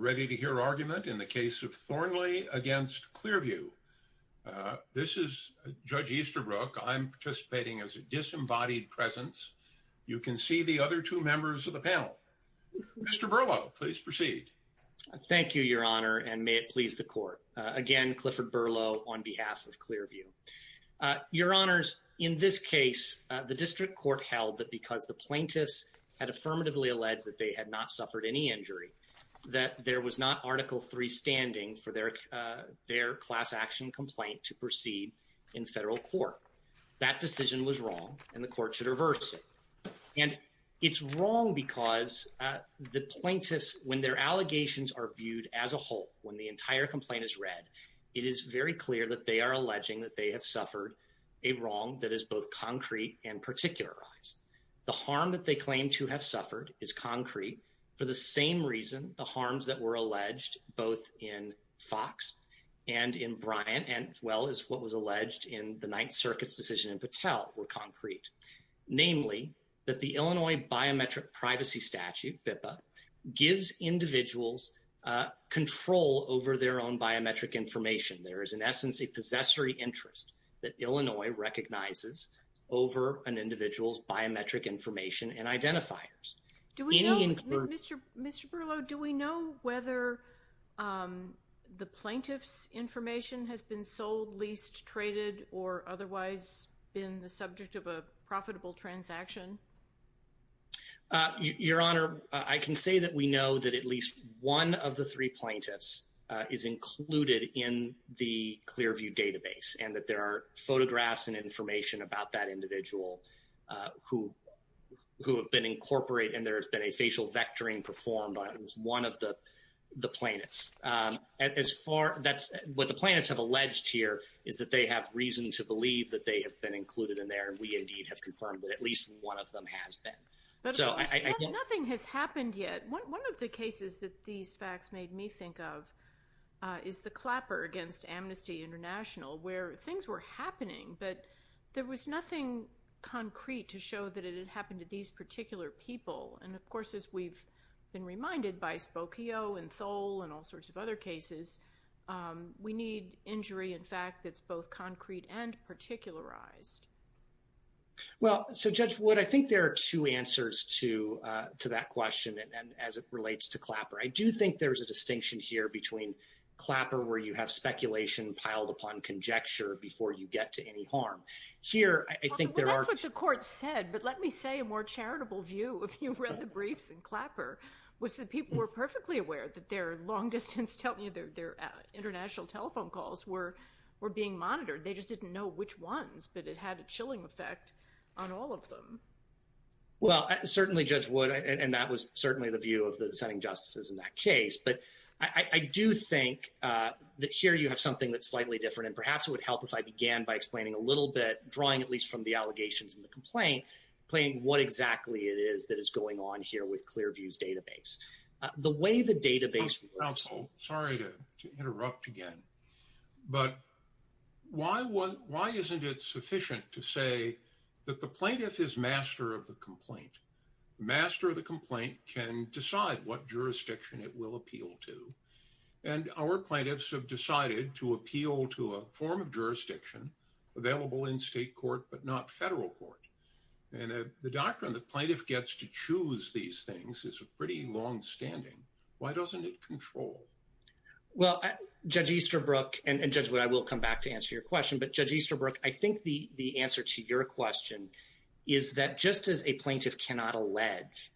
Ready to hear argument in the case of Thornley against Clearview. This is Judge Easterbrook. I'm participating as a disembodied presence. You can see the other two members of the panel. Mr. Burlow, please proceed. Thank you, Your Honor, and may it please the court. Again, Clifford Burlow on behalf of Clearview. Your Honors, in this case, the district court held that because the plaintiffs had affirmatively alleged that they had not suffered any injury, that there was not Article III standing for their class action complaint to proceed in federal court. That decision was wrong, and the court should reverse it. And it's wrong because the plaintiffs, when their allegations are viewed as a whole, when the entire complaint is read, it is very clear that they are alleging that they have suffered a wrong that is both concrete and particularized. The harm that they claim to have suffered is concrete for the same reason the harms that were alleged both in Fox and in Bryant, as well as what was alleged in the Ninth Circuit's decision in Patel were concrete. Namely, that the Illinois biometric privacy statute, BIPA, gives individuals control over their own biometric information. There is, in essence, a possessory interest that Illinois recognizes over an individual's biometric information and identifiers. Do we know, Mr. Burlow, do we know whether the plaintiff's information has been sold, leased, traded, or otherwise been the subject of a profitable transaction? Your Honor, I can say that we know that at least one of the three plaintiffs is included in the Clearview database, and that there are photographs and information about that individual who have been incorporated, and there has been a facial vectoring performed on at least one of the plaintiffs. What the plaintiffs have alleged here is that they have reason to believe that they have been included in there, and we indeed have confirmed that at least one of them has been. But of course, nothing has happened yet. One of the cases that these facts made me think of is the clapper against Amnesty International, where things were happening, but there was nothing concrete to show that it had happened to these particular people. And of course, as we've been reminded by Spokio and Thole and all sorts of other cases, we need injury, in fact, that's both concrete and particularized. Well, so, Judge Wood, I think there are two answers to that question as it relates to clapper. I do think there's a distinction here between clapper, where you have speculation piled upon conjecture before you get to any harm. Here, I think there are— Well, that's what the court said, but let me say a more charitable view. If you read the briefs in clapper, was that people were perfectly aware that their long-distance— their international telephone calls were being monitored. They just didn't know which ones, but it had a chilling effect on all of them. Well, certainly, Judge Wood, and that was certainly the view of the sentencing justices in that case. But I do think that here you have something that's slightly different, and perhaps it would help if I began by explaining a little bit, drawing at least from the allegations in the complaint, explaining what exactly it is that is going on here with Clearview's database. The way the database— Counsel, sorry to interrupt again, but why isn't it sufficient to say that the plaintiff is master of the complaint? Master of the complaint can decide what jurisdiction it will appeal to, and our plaintiffs have decided to appeal to a form of jurisdiction available in state court but not federal court. And the doctrine the plaintiff gets to choose these things is pretty longstanding. Why doesn't it control? Well, Judge Easterbrook, and Judge Wood, I will come back to answer your question, but Judge Easterbrook, I think the answer to your question is that just as a plaintiff cannot allege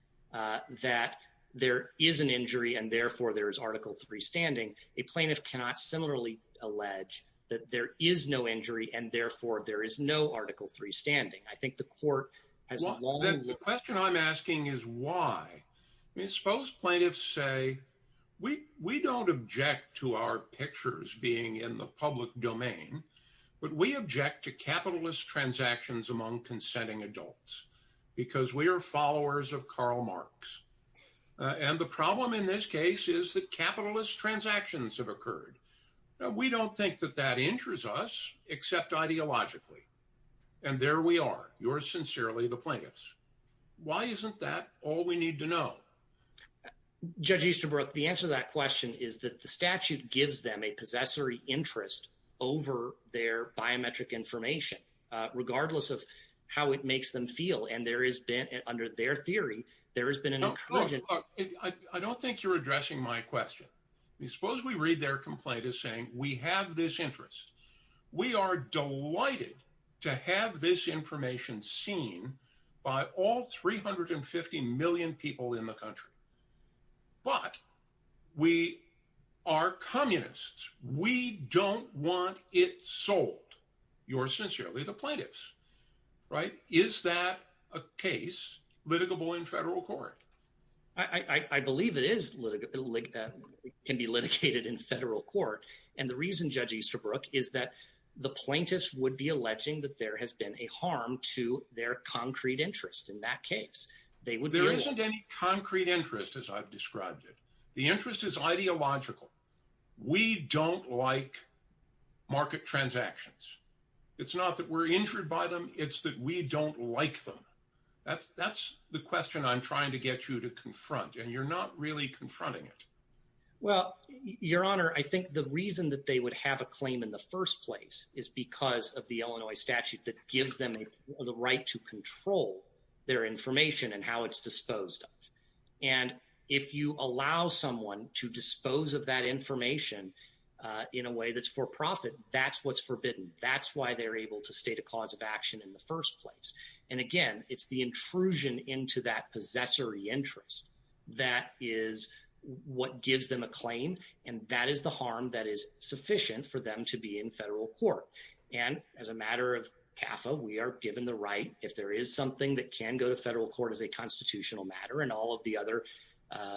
that there is an injury and therefore there is Article III standing, a plaintiff cannot similarly allege that there is no injury and therefore there is no Article III standing. I think the court has a long— The question I'm asking is why. I mean, suppose plaintiffs say, we don't object to our pictures being in the public domain, but we object to capitalist transactions among consenting adults because we are followers of Karl Marx. And the problem in this case is that capitalist transactions have occurred. We don't think that that injures us except ideologically, and there we are. You're sincerely the plaintiffs. Why isn't that all we need to know? Judge Easterbrook, the answer to that question is that the statute gives them a possessory interest over their biometric information, regardless of how it makes them feel, and there has been, under their theory, there has been an intrusion— Look, I don't think you're addressing my question. Suppose we read their complaint as saying, we have this interest. We are delighted to have this information seen by all 350 million people in the country, but we are communists. We don't want it sold. You're sincerely the plaintiffs, right? Is that a case litigable in federal court? I believe it can be litigated in federal court. And the reason, Judge Easterbrook, is that the plaintiffs would be alleging that there has been a harm to their concrete interest in that case. There isn't any concrete interest, as I've described it. The interest is ideological. We don't like market transactions. It's not that we're injured by them. It's that we don't like them. That's the question I'm trying to get you to confront, and you're not really confronting it. Well, Your Honor, I think the reason that they would have a claim in the first place is because of the Illinois statute that gives them the right to control their information and how it's disposed of. And if you allow someone to dispose of that information in a way that's for profit, that's what's forbidden. That's why they're able to state a cause of action in the first place. And, again, it's the intrusion into that possessory interest that is what gives them a claim, and that is the harm that is sufficient for them to be in federal court. And as a matter of CAFA, we are given the right, if there is something that can go to federal court as a constitutional matter and all of the other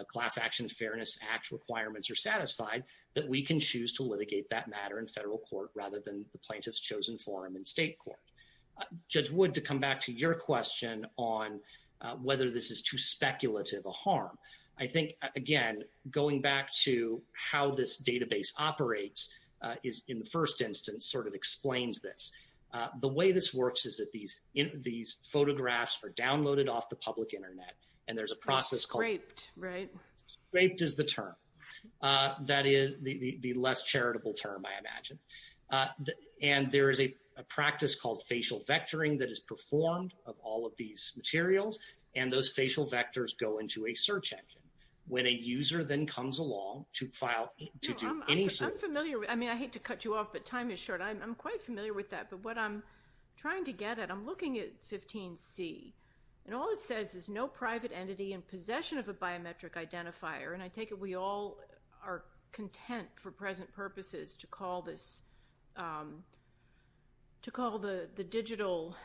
Class Action Fairness Act requirements are satisfied, that we can choose to litigate that matter in federal court rather than the plaintiff's chosen forum in state court. Judge Wood, to come back to your question on whether this is too speculative a harm, I think, again, going back to how this database operates is, in the first instance, sort of explains this. The way this works is that these photographs are downloaded off the public Internet, and there's a process called— Scraped, right? Scraped is the term. And there is a practice called facial vectoring that is performed of all of these materials, and those facial vectors go into a search engine. When a user then comes along to file— I'm familiar—I mean, I hate to cut you off, but time is short. I'm quite familiar with that, but what I'm trying to get at, I'm looking at 15C, and all it says is no private entity in possession of a biometric identifier. And I take it we all are content for present purposes to call this—to call the digital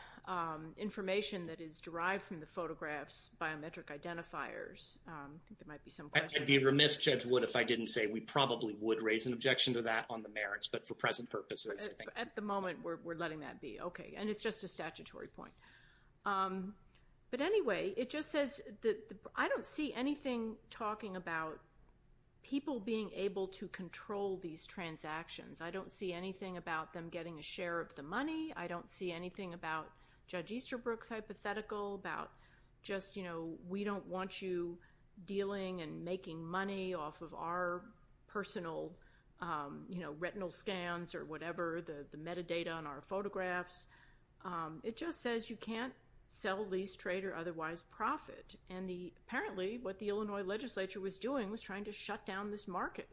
information that is derived from the photographs biometric identifiers. I think there might be some questions. I'd be remiss, Judge Wood, if I didn't say we probably would raise an objection to that on the merits, but for present purposes, I think— At the moment, we're letting that be. Okay. And it's just a statutory point. But anyway, it just says that I don't see anything talking about people being able to control these transactions. I don't see anything about them getting a share of the money. I don't see anything about Judge Easterbrook's hypothetical about just, you know, we don't want you dealing and making money off of our personal retinal scans or whatever, the metadata on our photographs. It just says you can't sell, lease, trade, or otherwise profit. And apparently what the Illinois legislature was doing was trying to shut down this market.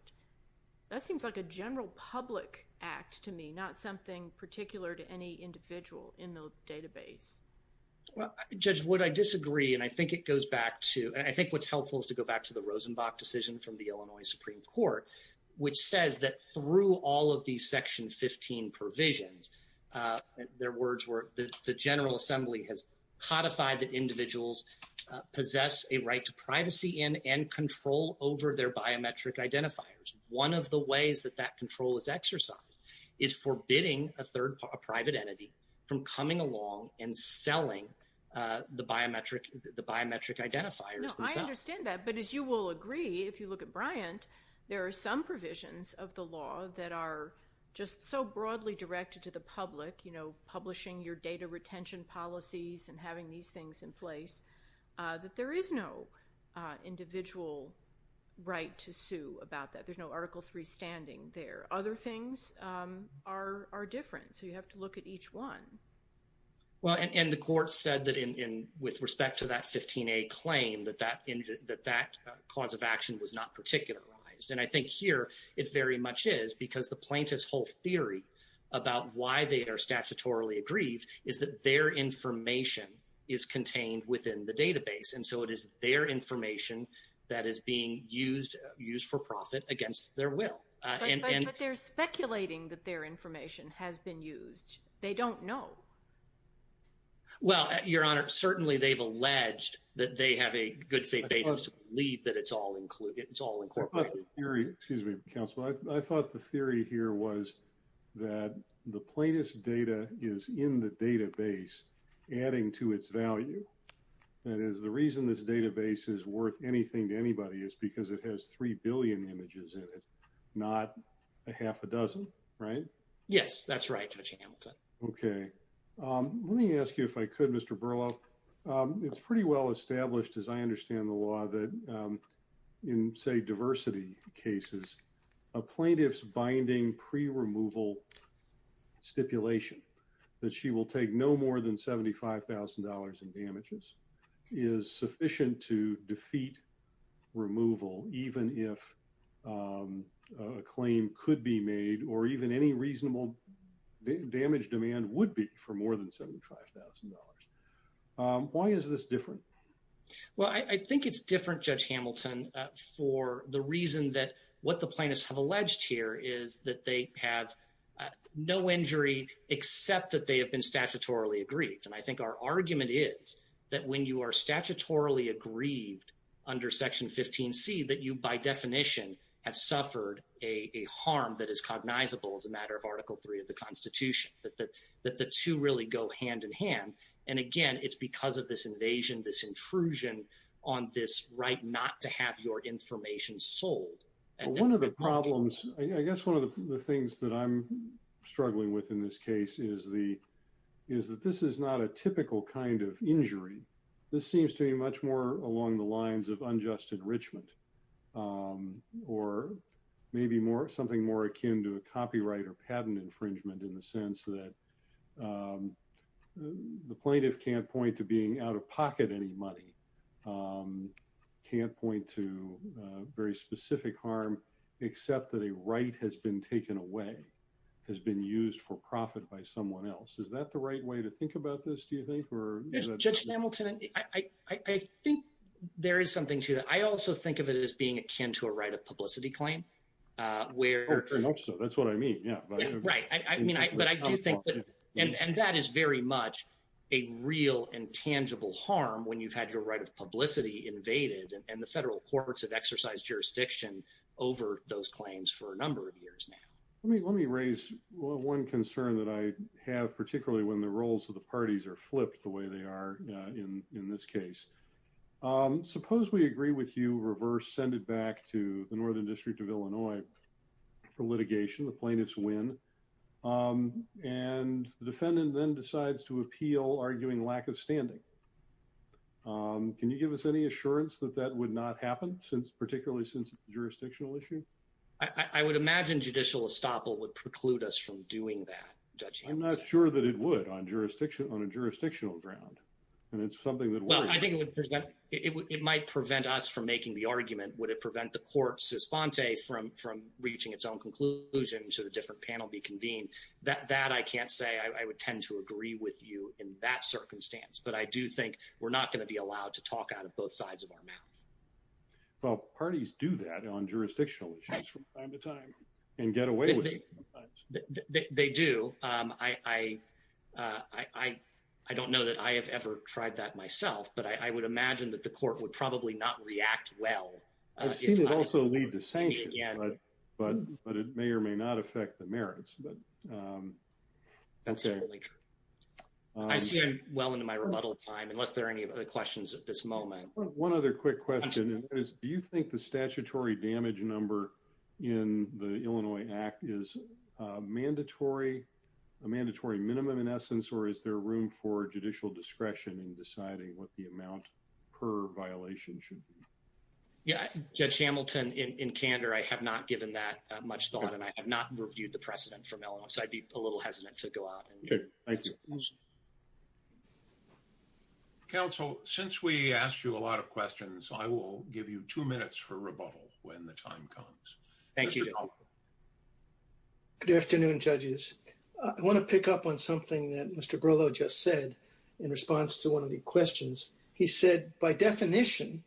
That seems like a general public act to me, not something particular to any individual in the database. Well, Judge Wood, I disagree, and I think it goes back to—and I think what's helpful is to go back to the Rosenbach decision from the Illinois Supreme Court, which says that through all of these Section 15 provisions, their words were the General Assembly has codified that individuals possess a right to privacy in and control over their biometric identifiers. One of the ways that that control is exercised is forbidding a private entity from coming along and selling the biometric identifiers themselves. But as you will agree, if you look at Bryant, there are some provisions of the law that are just so broadly directed to the public, you know, publishing your data retention policies and having these things in place, that there is no individual right to sue about that. There's no Article III standing there. Other things are different, so you have to look at each one. Well, and the court said that with respect to that 15A claim, that that cause of action was not particularized. And I think here it very much is because the plaintiff's whole theory about why they are statutorily aggrieved is that their information is contained within the database. And so it is their information that is being used for profit against their will. But they're speculating that their information has been used. They don't know. Well, Your Honor, certainly they've alleged that they have a good faith basis to believe that it's all included, it's all incorporated. Excuse me, counsel. I thought the theory here was that the plaintiff's data is in the database adding to its value. That is, the reason this database is worth anything to anybody is because it has 3 billion images in it, not a half a dozen, right? Yes, that's right, Judge Hamilton. Okay. Let me ask you if I could, Mr. Berlow. It's pretty well established, as I understand the law, that in, say, diversity cases, a plaintiff's binding pre-removal stipulation, that she will take no more than $75,000 in damages, is sufficient to defeat removal even if a claim could be made or even any reasonable damage demand would be for more than $75,000. Why is this different? Well, I think it's different, Judge Hamilton, for the reason that what the plaintiffs have alleged here is that they have no injury except that they have been statutorily aggrieved. And I think our argument is that when you are statutorily aggrieved under Section 15C, that you, by definition, have suffered a harm that is cognizable as a matter of Article III of the Constitution, that the two really go hand in hand. And again, it's because of this invasion, this intrusion on this right not to have your information sold. One of the problems, I guess one of the things that I'm struggling with in this case is that this is not a typical kind of injury. This seems to be much more along the lines of unjust enrichment or maybe something more akin to a copyright or patent infringement in the sense that the plaintiff can't point to being out of pocket any money, can't point to very specific harm, except that a right has been taken away, has been used for profit by someone else. Is that the right way to think about this, do you think? Judge Hamilton, I think there is something to that. I also think of it as being akin to a right of publicity claim. That's what I mean, yeah. Right. I mean, but I do think that and that is very much a real and tangible harm when you've had your right of publicity invaded and the federal courts have exercised jurisdiction over those claims for a number of years now. Let me raise one concern that I have, particularly when the roles of the parties are flipped the way they are in this case. Suppose we agree with you, reverse, send it back to the Northern District of Illinois for litigation, the plaintiffs win, and the defendant then decides to appeal arguing lack of standing. Can you give us any assurance that that would not happen, particularly since it's a jurisdictional issue? I would imagine judicial estoppel would preclude us from doing that, Judge Hamilton. I'm not sure that it would on a jurisdictional ground, and it's something that worries me. Well, I think it might prevent us from making the argument. Would it prevent the court's response from reaching its own conclusion should a different panel be convened? That I can't say. I would tend to agree with you in that circumstance, but I do think we're not going to be allowed to talk out of both sides of our mouth. Well, parties do that on jurisdictional issues from time to time and get away with it. They do. I don't know that I have ever tried that myself, but I would imagine that the court would probably not react well. I've seen it also lead to sanctions, but it may or may not affect the merits. That's certainly true. I've seen it well into my rebuttal time, unless there are any other questions at this moment. One other quick question is, do you think the statutory damage number in the Illinois Act is a mandatory minimum, in essence, or is there room for judicial discretion in deciding what the amount per violation should be? Yeah, Judge Hamilton, in candor, I have not given that much thought, and I have not reviewed the precedent from Illinois, so I'd be a little hesitant to go out and answer the question. Counsel, since we asked you a lot of questions, I will give you two minutes for rebuttal when the time comes. Thank you. Good afternoon, judges. I want to pick up on something that Mr. Berlow just said in response to one of the questions. He said, by definition,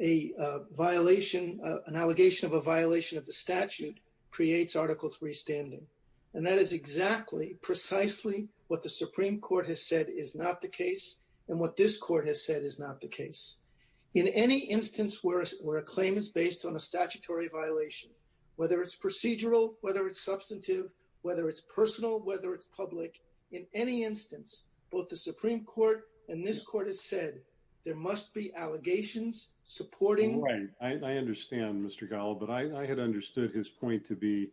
a violation, an allegation of a violation of the statute creates Article III standing, and that is exactly, precisely what the Supreme Court has said is not the case and what this court has said is not the case. In any instance where a claim is based on a statutory violation, whether it's procedural, whether it's substantive, whether it's personal, whether it's public, in any instance, both the Supreme Court and this court have said, there must be allegations supporting... I understand, Mr. Gallo, but I had understood his point to be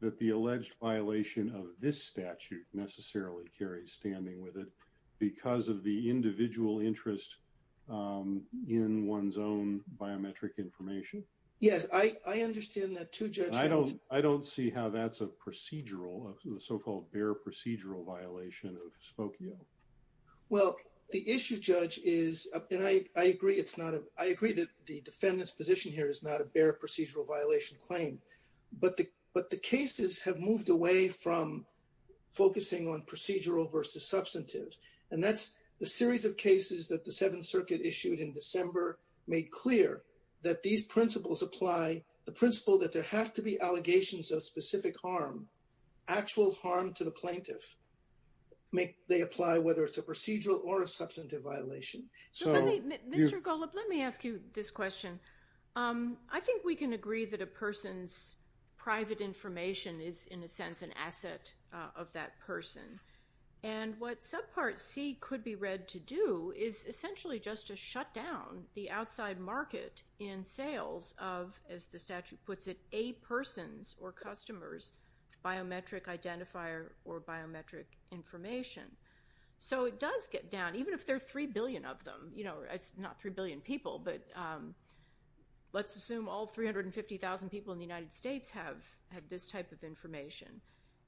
that the alleged violation of this statute necessarily carries standing with it because of the individual interest in one's own biometric information. Yes, I understand that, too, Judge Hamilton. I don't see how that's a procedural, a so-called bare procedural violation of Spokio. Well, the issue, Judge, is... And I agree that the defendant's position here is not a bare procedural violation claim, but the cases have moved away from focusing on procedural versus substantive, and that's the series of cases that the Seventh Circuit issued in December made clear that these principles apply, the principle that there have to be allegations of specific harm, actual harm to the plaintiff. They apply whether it's a procedural or a substantive violation. Mr. Golub, let me ask you this question. I think we can agree that a person's private information is, in a sense, an asset of that person, and what Subpart C could be read to do is essentially just to shut down the outside market in sales of, as the statute puts it, a person's or customer's biometric identifier or biometric information. So it does get down, even if there are 3 billion of them. It's not 3 billion people, but let's assume all 350,000 people in the United States have this type of information.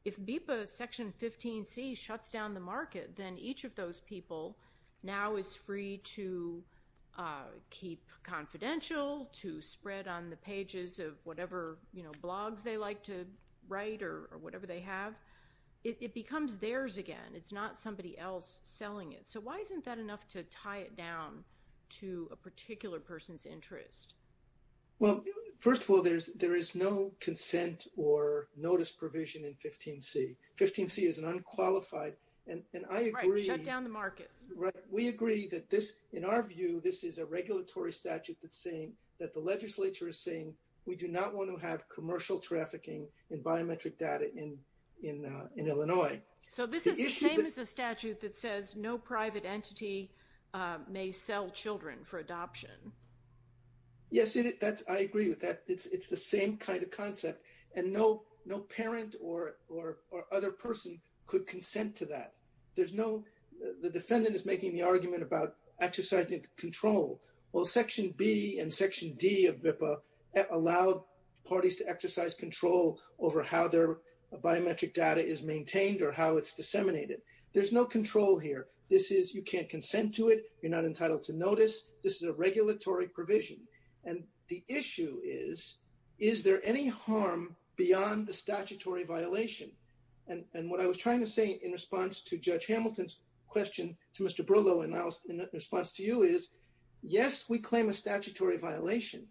If BEPA Section 15C shuts down the market, then each of those people now is free to keep confidential, to spread on the pages of whatever blogs they like to write or whatever they have. It becomes theirs again. It's not somebody else selling it. So why isn't that enough to tie it down to a particular person's interest? Well, first of all, there is no consent or notice provision in 15C. 15C is an unqualified, and I agree. Right, shut down the market. Right. We agree that this, in our view, this is a regulatory statute that's saying that the legislature is saying we do not want to have commercial trafficking in biometric data in Illinois. So this is the same as a statute that says no private entity may sell children for adoption. Yes, I agree with that. It's the same kind of concept, and no parent or other person could consent to that. There's no – the defendant is making the argument about exercising control. Well, Section B and Section D of BEPA allow parties to exercise control over how their biometric data is maintained or how it's disseminated. There's no control here. This is – you can't consent to it. You're not entitled to notice. This is a regulatory provision. And the issue is, is there any harm beyond the statutory violation? And what I was trying to say in response to Judge Hamilton's question to Mr. Brullo and now in response to you is, yes, we claim a statutory violation.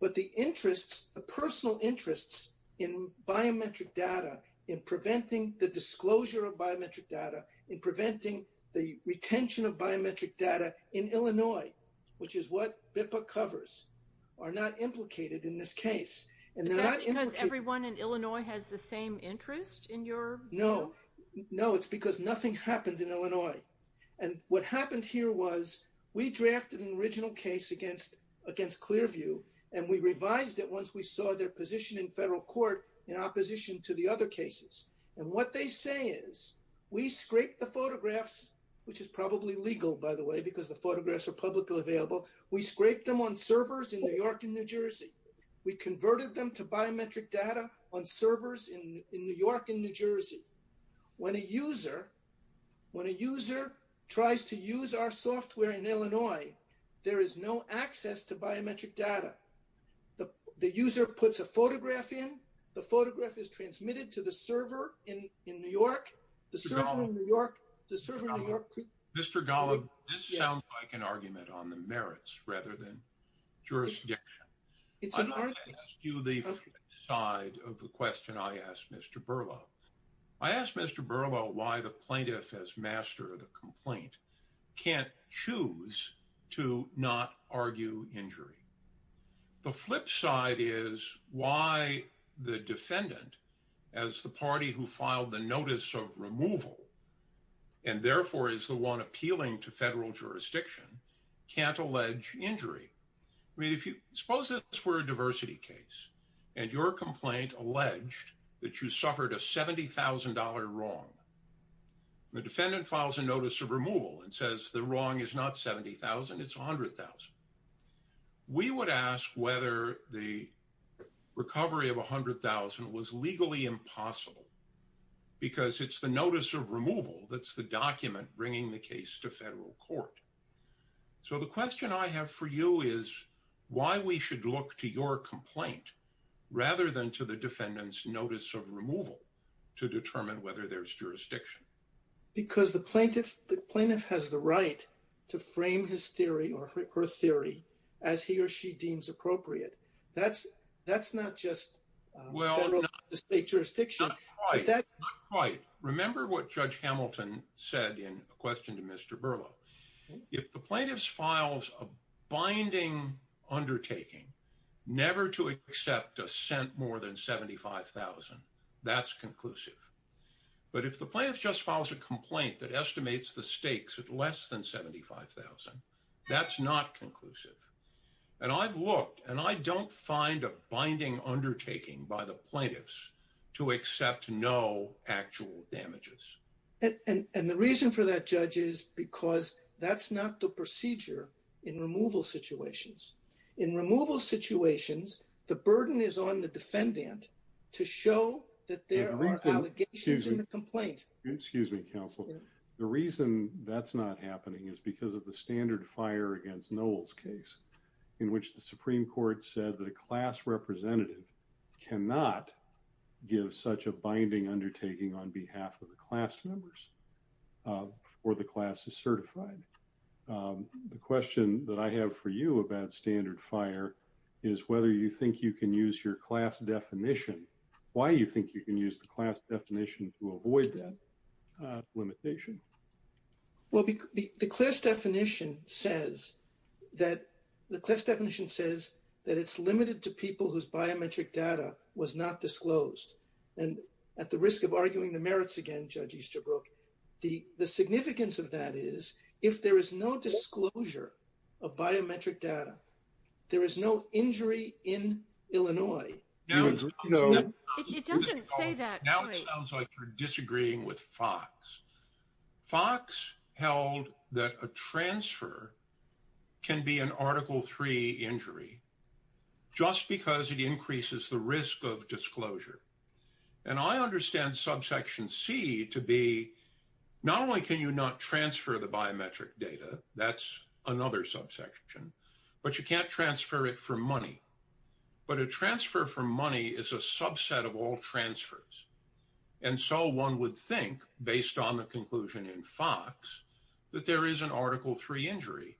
But the interests, the personal interests in biometric data, in preventing the disclosure of biometric data, in preventing the retention of biometric data in Illinois, which is what BEPA covers, are not implicated in this case. And they're not – Is that because everyone in Illinois has the same interest in your – No, it's because nothing happened in Illinois. And what happened here was we drafted an original case against Clearview and we revised it once we saw their position in federal court in opposition to the other cases. And what they say is we scraped the photographs, which is probably legal, by the way, because the photographs are publicly available. We scraped them on servers in New York and New Jersey. We converted them to biometric data on servers in New York and New Jersey. When a user – when a user tries to use our software in Illinois, there is no access to biometric data. The user puts a photograph in. The photograph is transmitted to the server in New York. The server in New York – Mr. Golub, Mr. Golub, this sounds like an argument on the merits rather than jurisdiction. It's an argument. Let me ask you the flip side of the question I asked Mr. Berlow. I asked Mr. Berlow why the plaintiff has mastered the complaint can't choose to not argue injury. The flip side is why the defendant, as the party who filed the notice of removal and therefore is the one appealing to federal jurisdiction, can't allege injury. I mean, if you – suppose this were a diversity case and your complaint alleged that you suffered a $70,000 wrong. The defendant files a notice of removal and says the wrong is not $70,000, it's $100,000. We would ask whether the recovery of $100,000 was legally impossible because it's the notice of removal that's the document bringing the case to federal court. So the question I have for you is why we should look to your complaint rather than to the defendant's notice of removal to determine whether there's jurisdiction. Because the plaintiff has the right to frame his theory or her theory as he or she deems appropriate. That's not just federal jurisdiction. Not quite. Remember what Judge Hamilton said in a question to Mr. Berlow. If the plaintiff files a binding undertaking never to accept a cent more than $75,000, that's conclusive. But if the plaintiff just files a complaint that estimates the stakes at less than $75,000, that's not conclusive. And I've looked and I don't find a binding undertaking by the plaintiffs to accept no actual damages. And the reason for that, Judge, is because that's not the procedure in removal situations. In removal situations, the burden is on the defendant to show that there are allegations in the complaint. Excuse me, counsel. The reason that's not happening is because of the standard fire against Knowles case, in which the Supreme Court said that a class representative cannot give such a binding undertaking on behalf of the class members or the class is certified. The question that I have for you about standard fire is whether you think you can use your class definition. Why do you think you can use the class definition to avoid that limitation? Well, the class definition says that the definition says that it's limited to people whose biometric data was not disclosed. And at the risk of arguing the merits again, Judge Easterbrook, the significance of that is if there is no disclosure of biometric data, there is no injury in Illinois. No, it doesn't say that. Now it sounds like you're disagreeing with Fox. Fox held that a transfer can be an Article three injury just because it increases the risk of disclosure. And I understand subsection C to be not only can you not transfer the biometric data, that's another subsection, but you can't transfer it for money. But a transfer for money is a subset of all transfers. And so one would think, based on the conclusion in Fox, that there is an Article three injury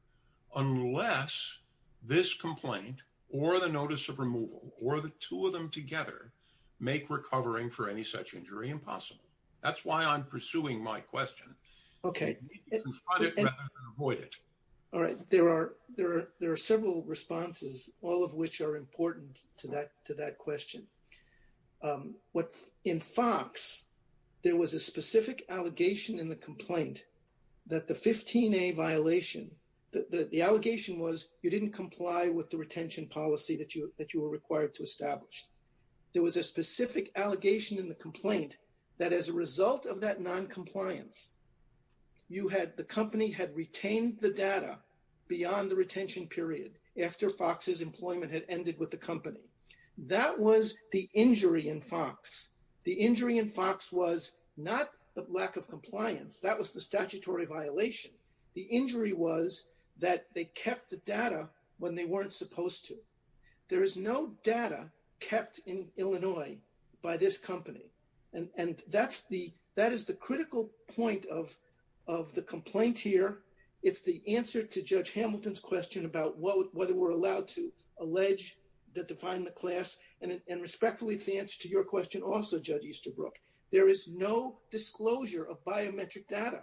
unless this complaint or the notice of removal or the two of them together make recovering for any such injury impossible. That's why I'm pursuing my question. OK, avoid it. All right. There are there are there are several responses, all of which are important to that to that question. What's in Fox? There was a specific allegation in the complaint that the 15 a violation that the allegation was you didn't comply with the retention policy that you that you were required to establish. There was a specific allegation in the complaint that as a result of that noncompliance, you had the company had retained the data beyond the retention period after Fox's employment had ended with the company. That was the injury in Fox. The injury in Fox was not a lack of compliance. That was the statutory violation. The injury was that they kept the data when they weren't supposed to. There is no data kept in Illinois by this company. And that's the that is the critical point of of the complaint here. It's the answer to Judge Hamilton's question about whether we're allowed to allege that define the class. And respectfully, thanks to your question. Also, Judge Easterbrook, there is no disclosure of biometric data.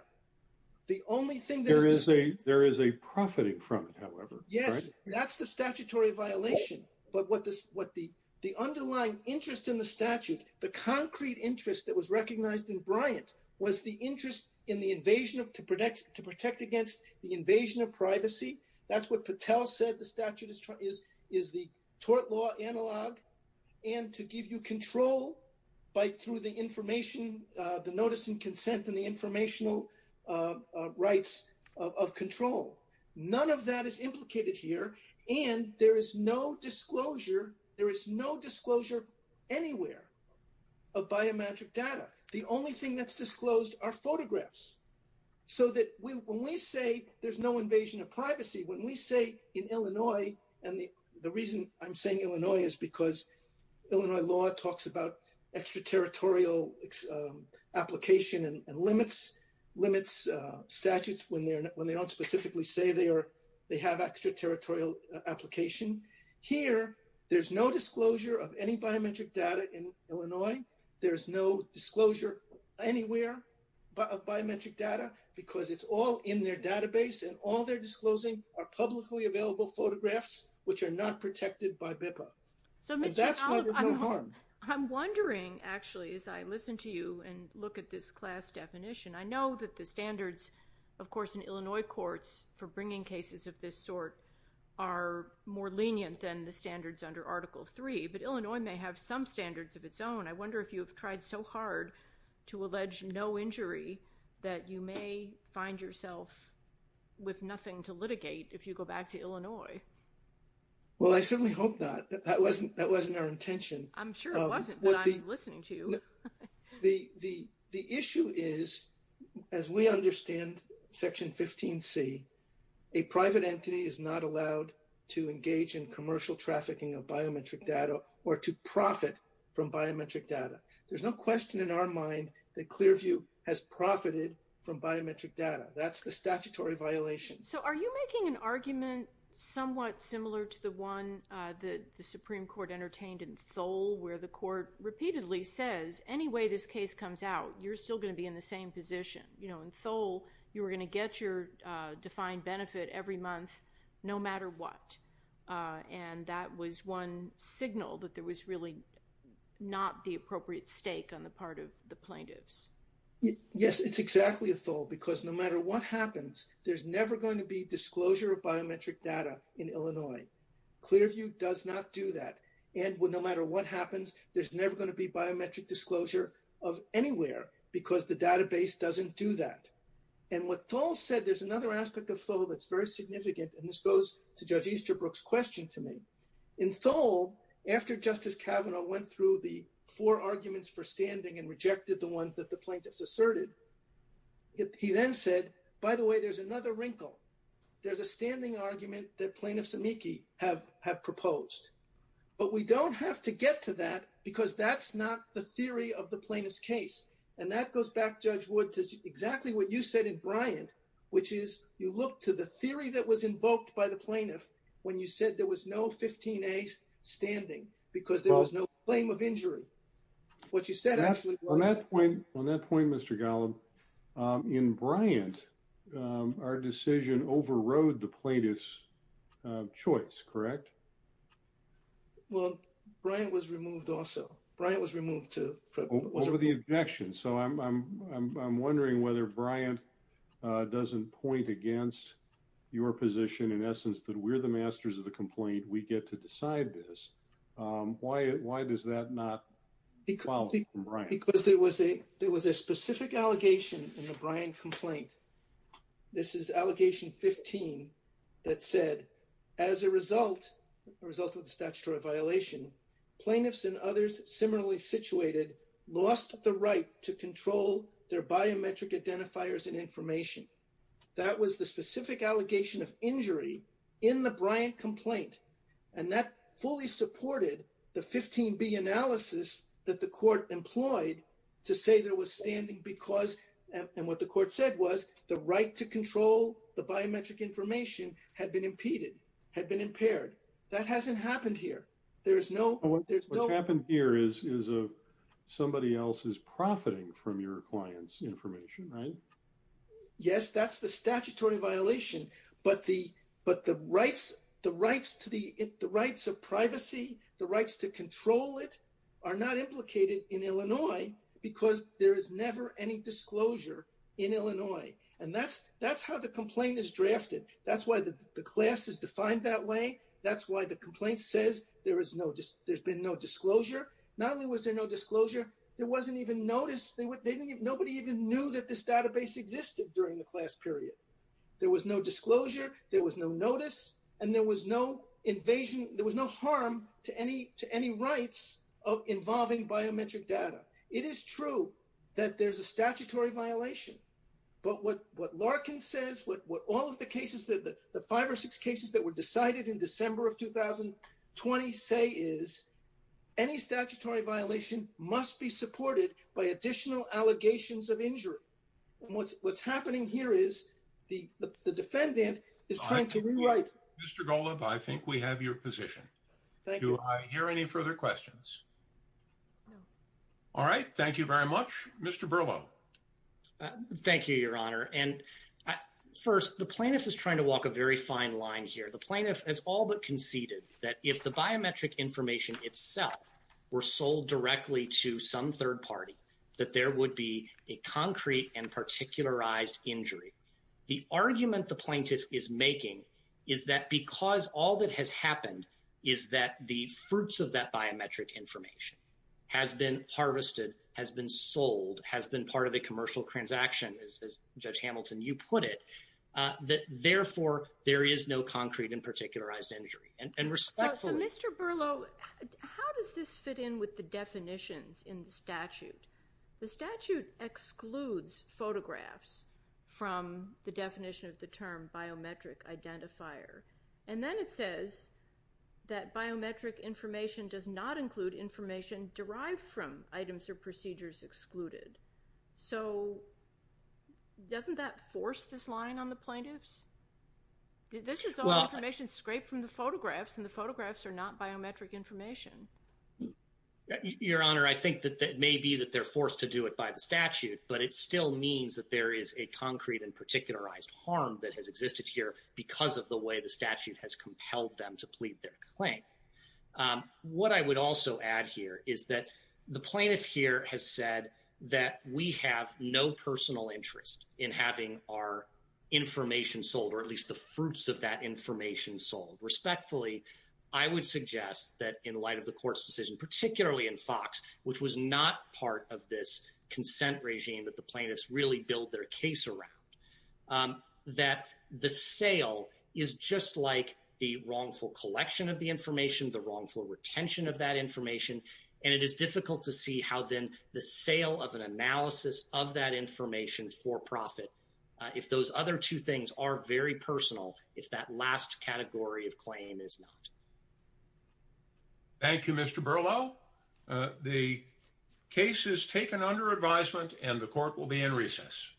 The only thing there is a there is a profiting from it, however. Yes, that's the statutory violation. But what this what the the underlying interest in the statute, the concrete interest that was recognized in Bryant was the interest in the invasion of to protect to protect against the invasion of privacy. That's what Patel said. The statute is is is the tort law analog and to give you control by through the information, the notice and consent and the informational rights of control. None of that is implicated here. And there is no disclosure. There is no disclosure anywhere of biometric data. The only thing that's disclosed are photographs so that when we say there's no invasion of privacy, when we say in Illinois. And the reason I'm saying Illinois is because Illinois law talks about extraterritorial application and limits limits statutes when they're when they don't specifically say they are. Here, there's no disclosure of any biometric data in Illinois. There's no disclosure anywhere of biometric data because it's all in their database and all they're disclosing are publicly available photographs, which are not protected by BIPA. So that's why I'm wondering, actually, as I listen to you and look at this class definition, I know that the standards, of course, in Illinois courts for bringing cases of this sort are more lenient than the standards under Article three. But Illinois may have some standards of its own. I wonder if you have tried so hard to allege no injury that you may find yourself with nothing to litigate if you go back to Illinois. Well, I certainly hope not. That wasn't that wasn't our intention. I'm sure it wasn't, but I'm listening to you. The issue is, as we understand Section 15C, a private entity is not allowed to engage in commercial trafficking of biometric data or to profit from biometric data. There's no question in our mind that Clearview has profited from biometric data. That's the statutory violation. So are you making an argument somewhat similar to the one that the Supreme Court entertained in Thole, where the court repeatedly says any way this case comes out, you're still going to be in the same position? You know, in Thole, you were going to get your defined benefit every month, no matter what. And that was one signal that there was really not the appropriate stake on the part of the plaintiffs. Yes, it's exactly a Thole, because no matter what happens, there's never going to be disclosure of biometric data in Illinois. Clearview does not do that. And no matter what happens, there's never going to be biometric disclosure of anywhere because the database doesn't do that. And what Thole said, there's another aspect of Thole that's very significant. And this goes to Judge Easterbrook's question to me. In Thole, after Justice Kavanaugh went through the four arguments for standing and rejected the one that the plaintiffs asserted, he then said, by the way, there's another wrinkle. There's a standing argument that Plaintiffs' Amici have proposed, but we don't have to get to that because that's not the theory of the plaintiff's case. And that goes back, Judge Wood, to exactly what you said in Bryant, which is you look to the theory that was invoked by the plaintiff when you said there was no 15As standing because there was no claim of injury. On that point, Mr. Golub, in Bryant, our decision overrode the plaintiff's choice, correct? Well, Bryant was removed also. Bryant was removed too. Over the objection. So I'm wondering whether Bryant doesn't point against your position, in essence, that we're the masters of the complaint, we get to decide this. Why does that not follow from Bryant? Because there was a specific allegation in the Bryant complaint. This is Allegation 15 that said, as a result of the statutory violation, plaintiffs and others similarly situated lost the right to control their biometric identifiers and information. That was the specific allegation of injury in the Bryant complaint. And that fully supported the 15B analysis that the court employed to say there was standing because, and what the court said was, the right to control the biometric information had been impeded, had been impaired. That hasn't happened here. What's happened here is somebody else is profiting from your client's information, right? Yes, that's the statutory violation. But the rights of privacy, the rights to control it, are not implicated in Illinois because there is never any disclosure in Illinois. And that's how the complaint is drafted. That's why the class is defined that way. That's why the complaint says there's been no disclosure. Not only was there no disclosure, there wasn't even notice. Nobody even knew that this database existed during the class period. There was no disclosure. There was no notice. And there was no invasion. There was no harm to any rights involving biometric data. It is true that there's a statutory violation. But what Larkin says, what all of the cases, the five or six cases that were decided in December of 2020 say is any statutory violation must be supported by additional allegations of injury. What's happening here is the defendant is trying to rewrite. Mr. Golub, I think we have your position. Thank you. Do I hear any further questions? No. All right. Thank you very much. Mr. Berlow. Thank you, Your Honor. And first, the plaintiff is trying to walk a very fine line here. The plaintiff has all but conceded that if the biometric information itself were sold directly to some third party, that there would be a concrete and particularized injury. The argument the plaintiff is making is that because all that has happened is that the fruits of that biometric information has been harvested, has been sold, has been part of a commercial transaction, as Judge Hamilton, you put it, that, therefore, there is no concrete and particularized injury. And respectfully— So, Mr. Berlow, how does this fit in with the definitions in the statute? The statute excludes photographs from the definition of the term biometric identifier. And then it says that biometric information does not include information derived from items or procedures excluded. So, doesn't that force this line on the plaintiffs? This is all information scraped from the photographs, and the photographs are not biometric information. Your Honor, I think that it may be that they're forced to do it by the statute, but it still means that there is a concrete and particularized harm that has existed here because of the way the statute has compelled them to plead their claim. What I would also add here is that the plaintiff here has said that we have no personal interest in having our information sold, or at least the fruits of that information sold. Respectfully, I would suggest that in light of the court's decision, particularly in Fox, which was not part of this consent regime that the plaintiffs really built their case around, that the sale is just like the wrongful collection of the information, the wrongful retention of that information. And it is difficult to see how then the sale of an analysis of that information for profit, if those other two things are very personal, if that last category of claim is not. Thank you, Mr. Berlow. The case is taken under advisement, and the court will be in recess.